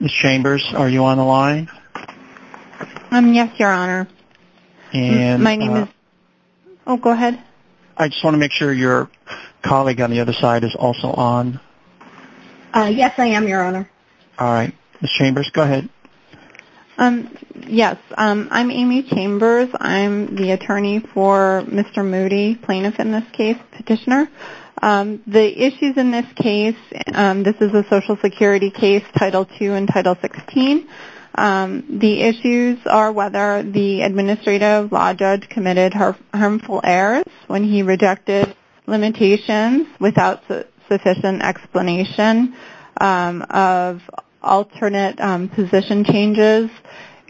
Ms. Chambers, are you on the line? Yes, Your Honor. I just want to make sure your colleague on the other side is also on. Yes, I am, Your Honor. Ms. Chambers, go ahead. Yes, I'm Amy Chambers. I'm the attorney for Mr. Moody, plaintiff in this case, petitioner. The issues in this case, this is a Social Security case, Title II and Title XVI. The issues are whether the administrative law judge committed harmful errors when he rejected limitations without sufficient explanation of alternate position changes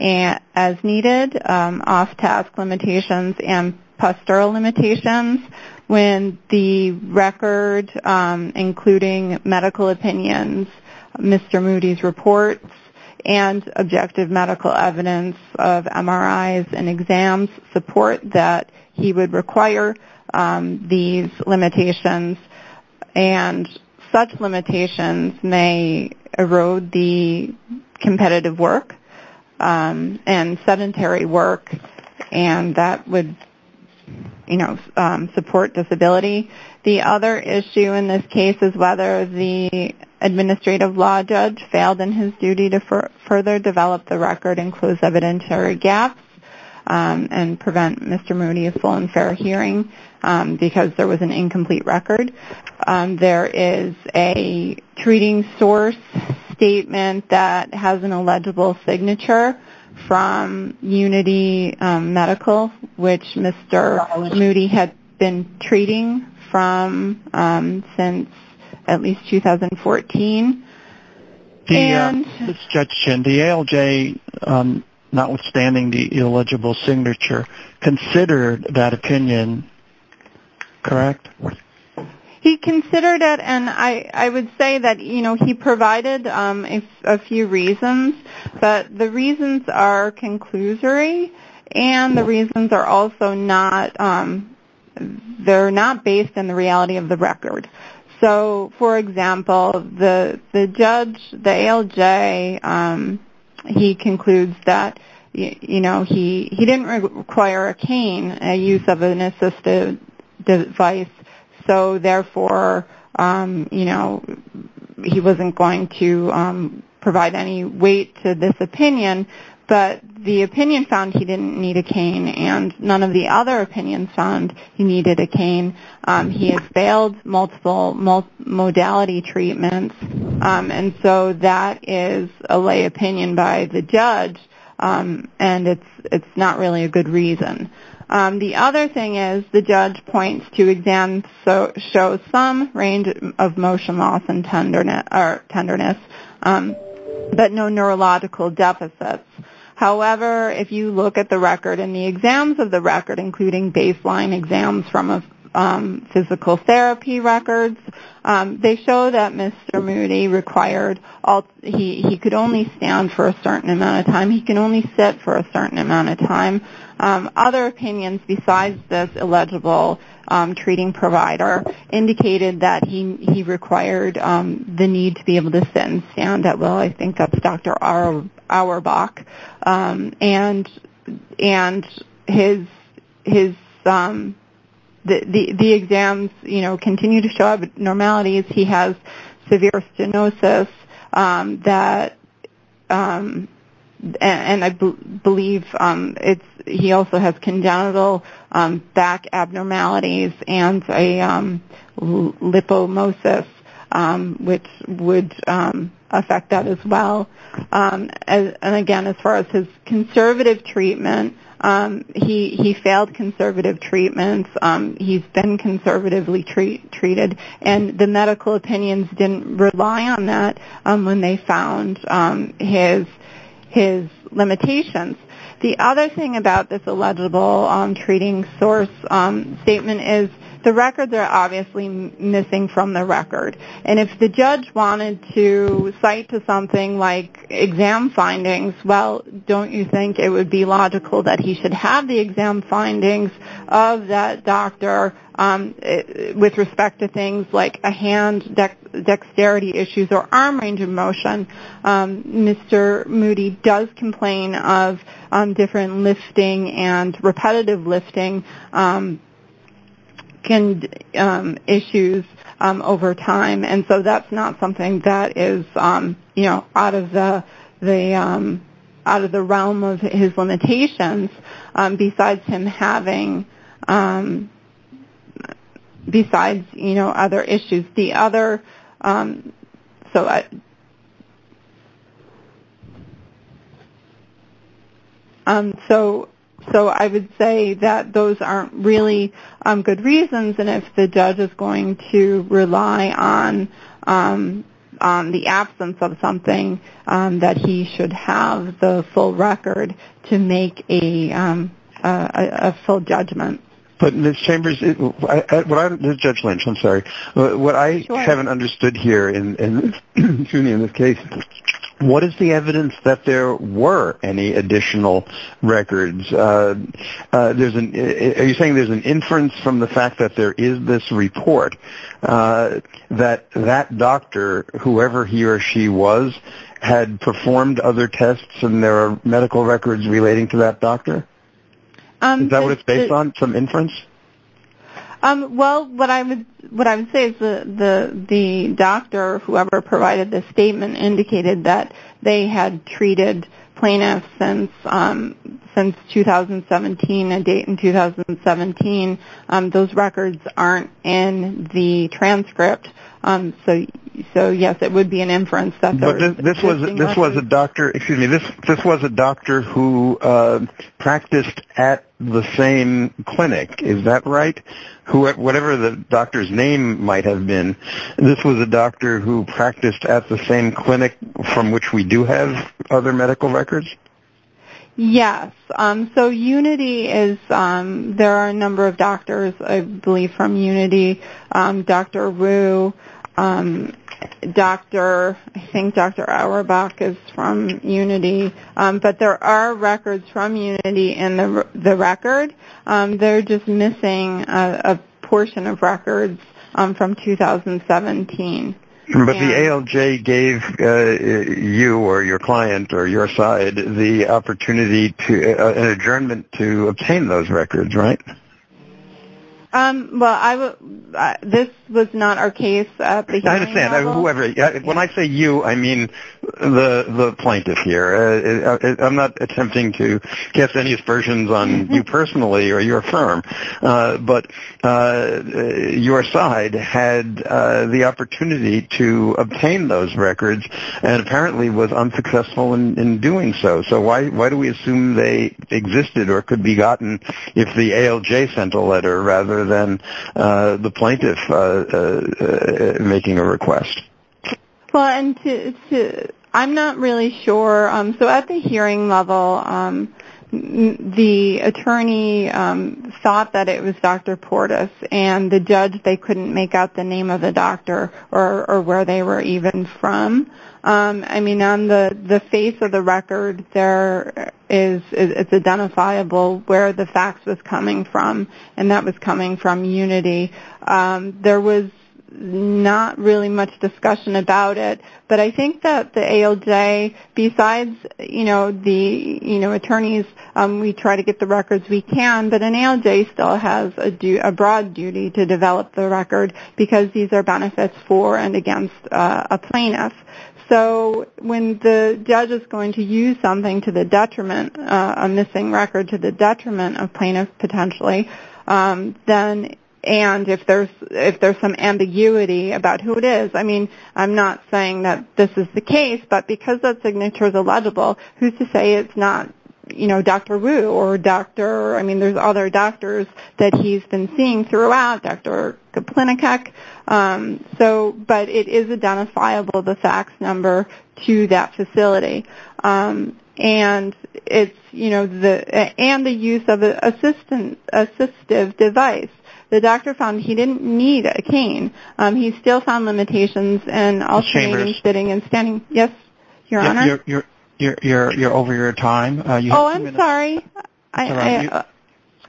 as needed, off-task limitations, and postural limitations when the record, including medical opinions, Mr. Moody's reports, and objective medical evidence of MRIs and exams support that he would require these limitations, and such limitations may erode the competitive work and sedentary work, and that would support disability. The other issue in this case is whether the administrative law judge failed in his duty to further develop the record and close evidentiary gaps and prevent Mr. Moody's full and fair hearing because there was an incomplete record. There is a treating source statement that has an illegible signature from Unity Medical, which Mr. Moody had been treating from since at least 2014. The ALJ, notwithstanding the illegible signature, considered that opinion, correct? He considered it, and I would say that he provided a few reasons, but the reasons are conclusory, and the reasons are also not based on the reality of the record. For example, the judge, the ALJ, he concludes that he didn't require a cane, a use of an assistive device, so therefore he wasn't going to provide any weight to this opinion, but the opinion found he didn't need a cane, and none of the other opinions found he needed a cane. He has failed multiple modality treatments, and so that is a lay opinion by the judge, and it's not really a good reason. The other thing is the judge points to exams that show some range of motion loss and tenderness, but no neurological deficits. However, if you look at the record and the exams of the record, including baseline exams from physical therapy records, they show that Mr. Moody required he could only stand for a certain amount of time, he could only sit for a certain amount of time. Other opinions besides this illegible treating provider indicated that he required the need to be able to sit and stand at will. I think that's Dr. Auerbach. The exams continue to show abnormalities. He has severe stenosis, and I believe he also has congenital back abnormalities and a lipomosis, which would affect that as well. And again, as far as his conservative treatment, he failed conservative treatments. He's been conservatively treated, and the medical opinions didn't rely on that when they found his limitations. The other thing about this illegible treating source statement is the records are obviously missing from the record. And if the judge wanted to cite to something like exam findings, well, don't you think it would be logical that he should have the exam findings of that doctor with respect to things like hand dexterity issues or arm range of motion? Mr. Moody does complain of different lifting and repetitive lifting issues over time. And so that's not something that is out of the realm of his limitations besides him having other issues. So I would say that those aren't really good reasons. And if the judge is going to rely on the absence of something, that he should have the full record to make a full judgment. Judge Lynch, I'm sorry. What I haven't understood here in this case, what is the evidence that there were any additional records? Are you saying there's an inference from the fact that there is this report that that doctor, whoever he or she was, had performed other tests and there are medical records relating to that doctor? Is that what it's based on, some inference? Well, what I would say is the doctor, whoever provided this statement, indicated that they had treated plaintiffs since 2017, a date in 2017. Those records aren't in the transcript. So, yes, it would be an inference that there are existing records. This was a doctor who practiced at the same clinic, is that right? Whatever the doctor's name might have been, this was a doctor who practiced at the same clinic from which we do have other medical records? Yes. So UNITY is there are a number of doctors, I believe, from UNITY. Dr. Rue, I think Dr. Auerbach is from UNITY. But there are records from UNITY in the record. They're just missing a portion of records from 2017. But the ALJ gave you or your client or your side the opportunity to an adjournment to obtain those records, right? Well, this was not our case at the hearing level. When I say you, I mean the plaintiff, not attempting to cast any aspersions on you personally or your firm. But your side had the opportunity to obtain those records and apparently was unsuccessful in doing so. So why do we assume they existed or could be gotten if the ALJ sent a letter rather than the plaintiff making a request? I'm not really sure. So at the hearing level, the attorney thought that it was Dr. Portis. And the judge, they couldn't make out the name of the doctor or where they were even from. I mean, on the face of the record, it's identifiable where the fax was coming from. And that was coming from UNITY. There was not really much discussion about it. But I think that the ALJ, besides the attorneys, we try to get the records we can. But an ALJ still has a broad duty to develop the record because these are benefits for and against a plaintiff. So when the judge is going to use something to the detriment, a missing record to the detriment of plaintiffs potentially, and if there's some ambiguity about who it is, I mean, I'm not saying that this is the case, but because that signature is illegible, who's to say it's not Dr. Wu or Dr. I mean, there's other doctors that he's been seeing throughout, Dr. Kaplinacek. But it is identifiable, the fax number to that facility. And the use of an ALJ. He's still found limitations. You're over your time. Oh, I'm sorry.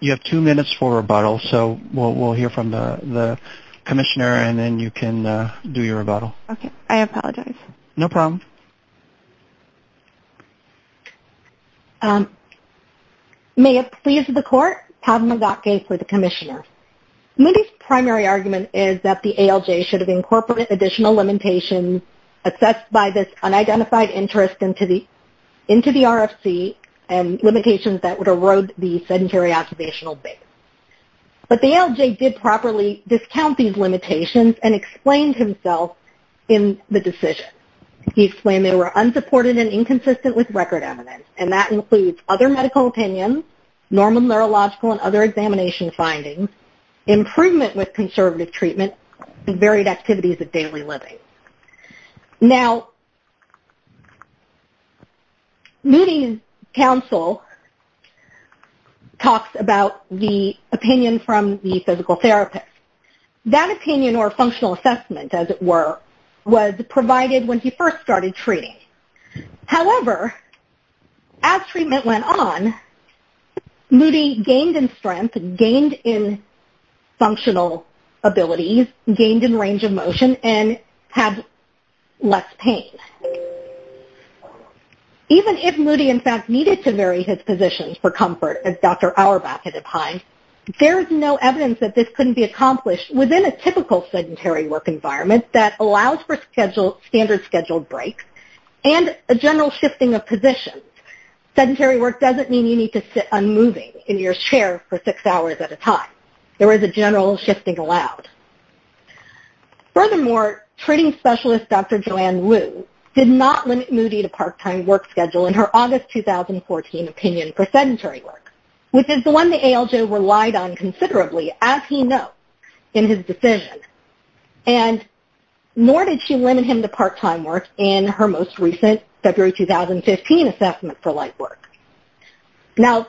You have two minutes for rebuttal. So we'll hear from the commissioner and then you can do your rebuttal. No problem. May it please the court, Padma Ghatke for the commissioner. Moody's primary argument is that the ALJ should have incorporated additional limitations assessed by this unidentified interest into the RFC and limitations that would erode the sedentary occupational base. But the ALJ did properly discount these limitations and explained himself in the decision. He explained they were unsupported and inconsistent with record evidence. And that includes other medical opinions, normal neurological and other examination findings, improvement with conservative treatment, and varied activities of daily living. Now, Moody's counsel talks about the opinion from the physical therapist. That opinion or functional assessment, as it were, was provided when he first started treating. However, as treatment went on, Moody gained in strength, gained in functional abilities, gained in range of motion, and had less pain. Even if Moody, in fact, needed to vary his positions for comfort, as Dr. Auerbach had opined, there's no evidence that this couldn't be accomplished within a typical sedentary work environment that allows for standard scheduled breaks and a general shifting of positions. Sedentary work doesn't mean you need to sit unmoving in your chair for six hours at a time. There is a general shifting allowed. Furthermore, treating specialist Dr. Joanne Wu did not limit Moody to part-time work schedule in her August 2014 opinion for sedentary work, which is the one the ALJ relied on considerably, as he knows, in his decision. Nor did she limit him to part-time work in her most recent February 2015 assessment for light work. Now,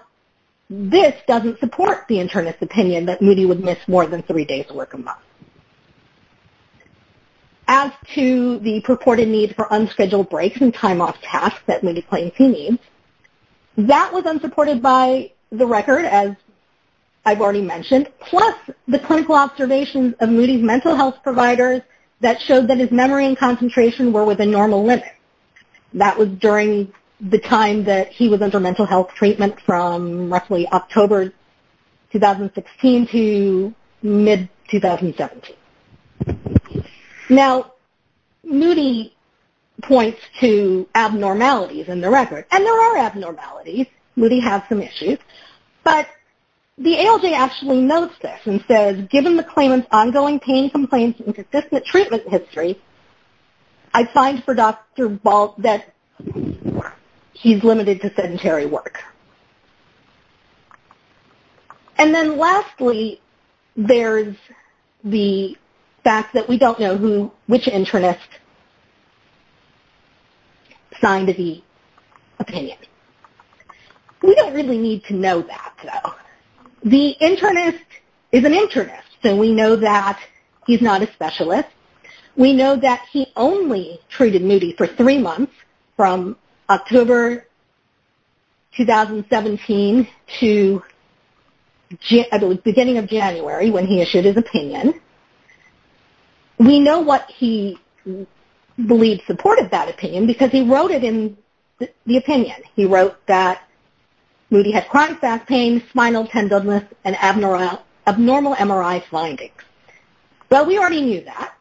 this doesn't support the internist's opinion that Moody would miss more than three days of work a month. As to the purported need for unscheduled breaks and time-off tasks that Moody claims he needs, that was unsupported by the record, as I've already mentioned, plus the clinical observations of Moody's mental health providers that showed that his memory and concentration were within normal limits. That was during the time that he was under mental health treatment from roughly October 2016 to mid-2017. Now, Moody points to abnormalities in the record, and there are abnormalities. Moody has some issues, but the ALJ actually notes this and says, given the claimant's ongoing pain complaints and consistent treatment history, I find for Dr. Ball that he's limited to sedentary work. And then lastly, there's the fact that we don't know who which internist signed the opinion. We don't really need to know that, though. The internist is an internist, and we know that he's not a specialist. We know that he only treated Moody for three months, from October 2017 to the beginning of January, when he issued his opinion. We know what he believed supported that opinion, because he wrote it in the opinion. He wrote that Moody had chronic back pain, spinal tenderness, and abnormal MRI findings. Well, we already knew that,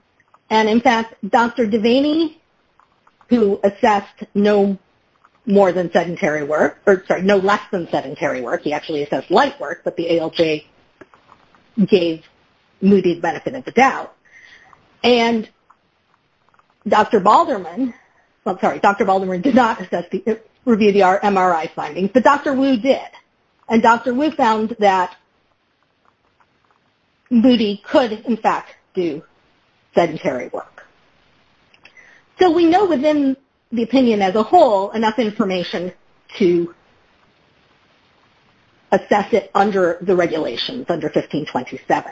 and in fact, Dr. Devaney, who assessed no more than sedentary work or, sorry, no less than sedentary work, he actually assessed light work, but the ALJ gave Moody the benefit of the doubt. And Dr. Balderman, well, sorry, Dr. Balderman did not review the MRI findings, but Dr. Wu did. And Dr. Wu found that Moody could, in fact, do sedentary work. So we know within the opinion as a whole enough information to assess it under the regulations, under 1527.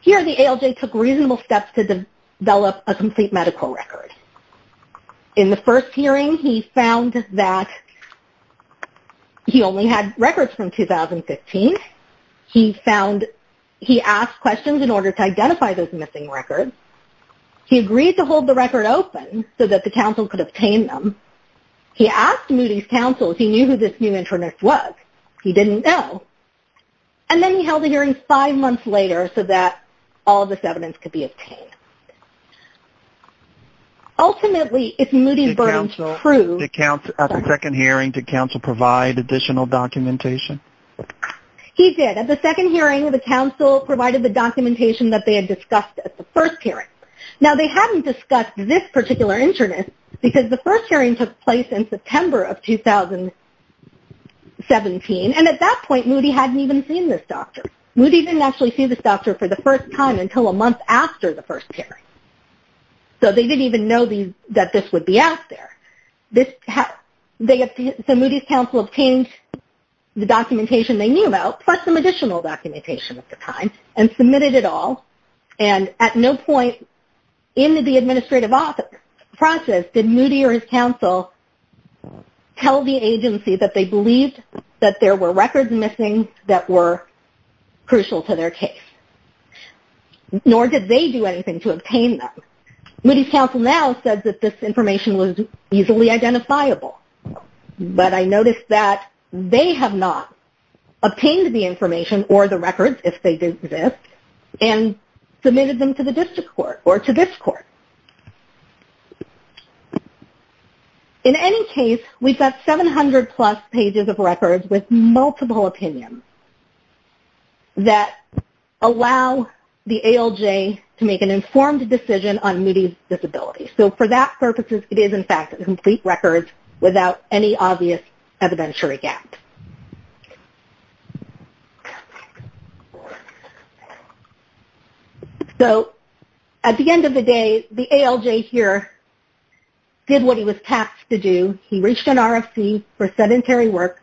Here, the ALJ took reasonable steps to develop a complete medical record. In the first hearing, he found that he only had records from 2015. He found, he asked questions in order to identify those missing records. He agreed to hold the record open so that the council could obtain them. He asked Moody's council if he knew who this new internist was. He didn't know. And then he held a hearing five months later so that all this evidence could be obtained. Ultimately, if Moody's verdict was true... Did council, at the second hearing, did council provide additional documentation? He did. At the second hearing, the council provided the documentation that they had discussed at the first hearing. Now, they hadn't discussed this particular internist because the first hearing took place in September of 2017. And at that point, Moody hadn't even seen this doctor. Moody didn't actually see this doctor for the first time until a month after the first hearing. So they didn't even know that this would be out there. So Moody's council obtained the documentation they knew about, plus some additional documentation at the time, and submitted it all. And at no point in the administrative office process did Moody or his council tell the agency that they believed that there were records missing that were crucial to their case. Nor did they do anything to obtain them. Moody's council now says that this information was easily identifiable. But I noticed that they have not obtained the information or the records, if they do exist, and submitted them to the district court or to this court. In any case, we've got 700-plus pages of records with multiple opinions that allow the ALJ to make an informed decision on Moody's disability. So for that purposes, it is, in fact, complete records without any obvious evidentiary gaps. So at the end of the day, the ALJ here did what he was tasked to do. He reached an RFC for sedentary work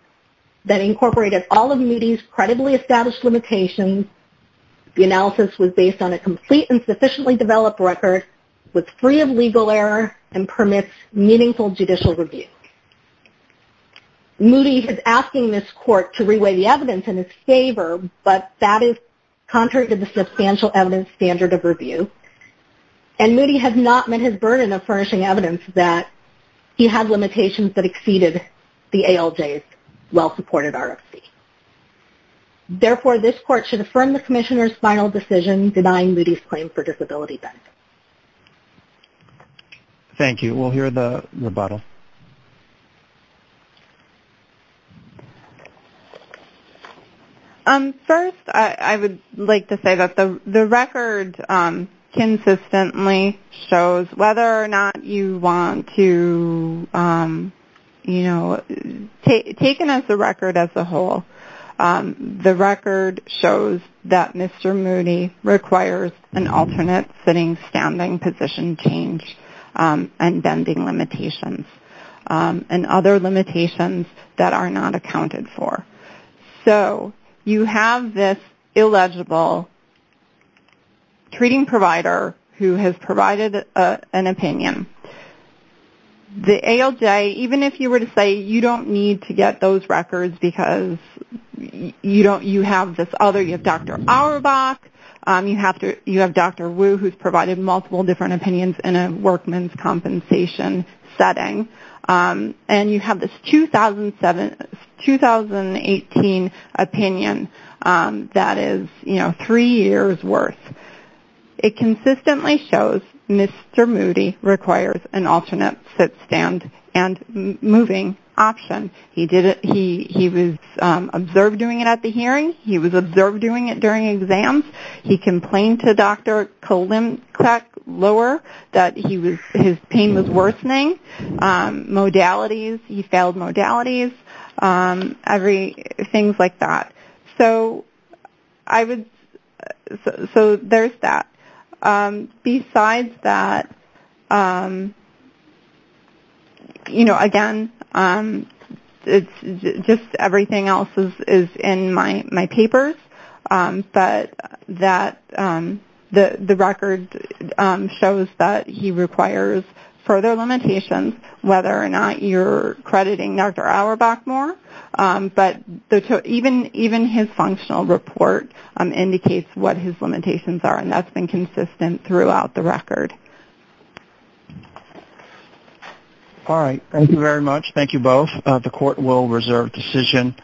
that incorporated all of Moody's credibly established limitations. The analysis was based on a complete and sufficiently developed record with free of legal error and permits meaningful judicial review. Moody is asking this court to reweigh the evidence in his favor, but that is contrary to the substantial evidence standard of review. And Moody has not met his burden of furnishing evidence that he had limitations that exceeded the ALJ's well-supported RFC. Therefore, this court should affirm the commissioner's final decision denying Moody's claim for disability benefits. Thank you. We'll hear the rebuttal. First, I would like to say that the record consistently shows whether or not you want to take it as the record as a whole. The record shows that Mr. Moody requires an alternate sitting-standing position change and bending limitations and other limitations that are not accounted for. So you have this illegible treating provider who has provided an opinion. The ALJ, even if you were to say you don't need to get those records because you have this other, you have Dr. Auerbach, you have Dr. Wu who's provided multiple different opinions in a workman's compensation setting, and you have this 2018 opinion that is three years worth. It consistently shows Mr. Moody requires an alternate sit-stand and moving option. He was observed doing it at the hearing. He was observed doing it during exams. He complained to Dr. Klemczak-Lohr that his pain was worsening. Modalities, he failed modalities, things like that. So there's that. Besides that, again, just everything else is in my papers, but the record shows that he requires further limitations whether or not you're crediting Dr. Auerbach more, but even his functional report indicates what his limitations are, and that's been consistent throughout the record. All right. Thank you very much. Thank you both. The Court will reserve decision.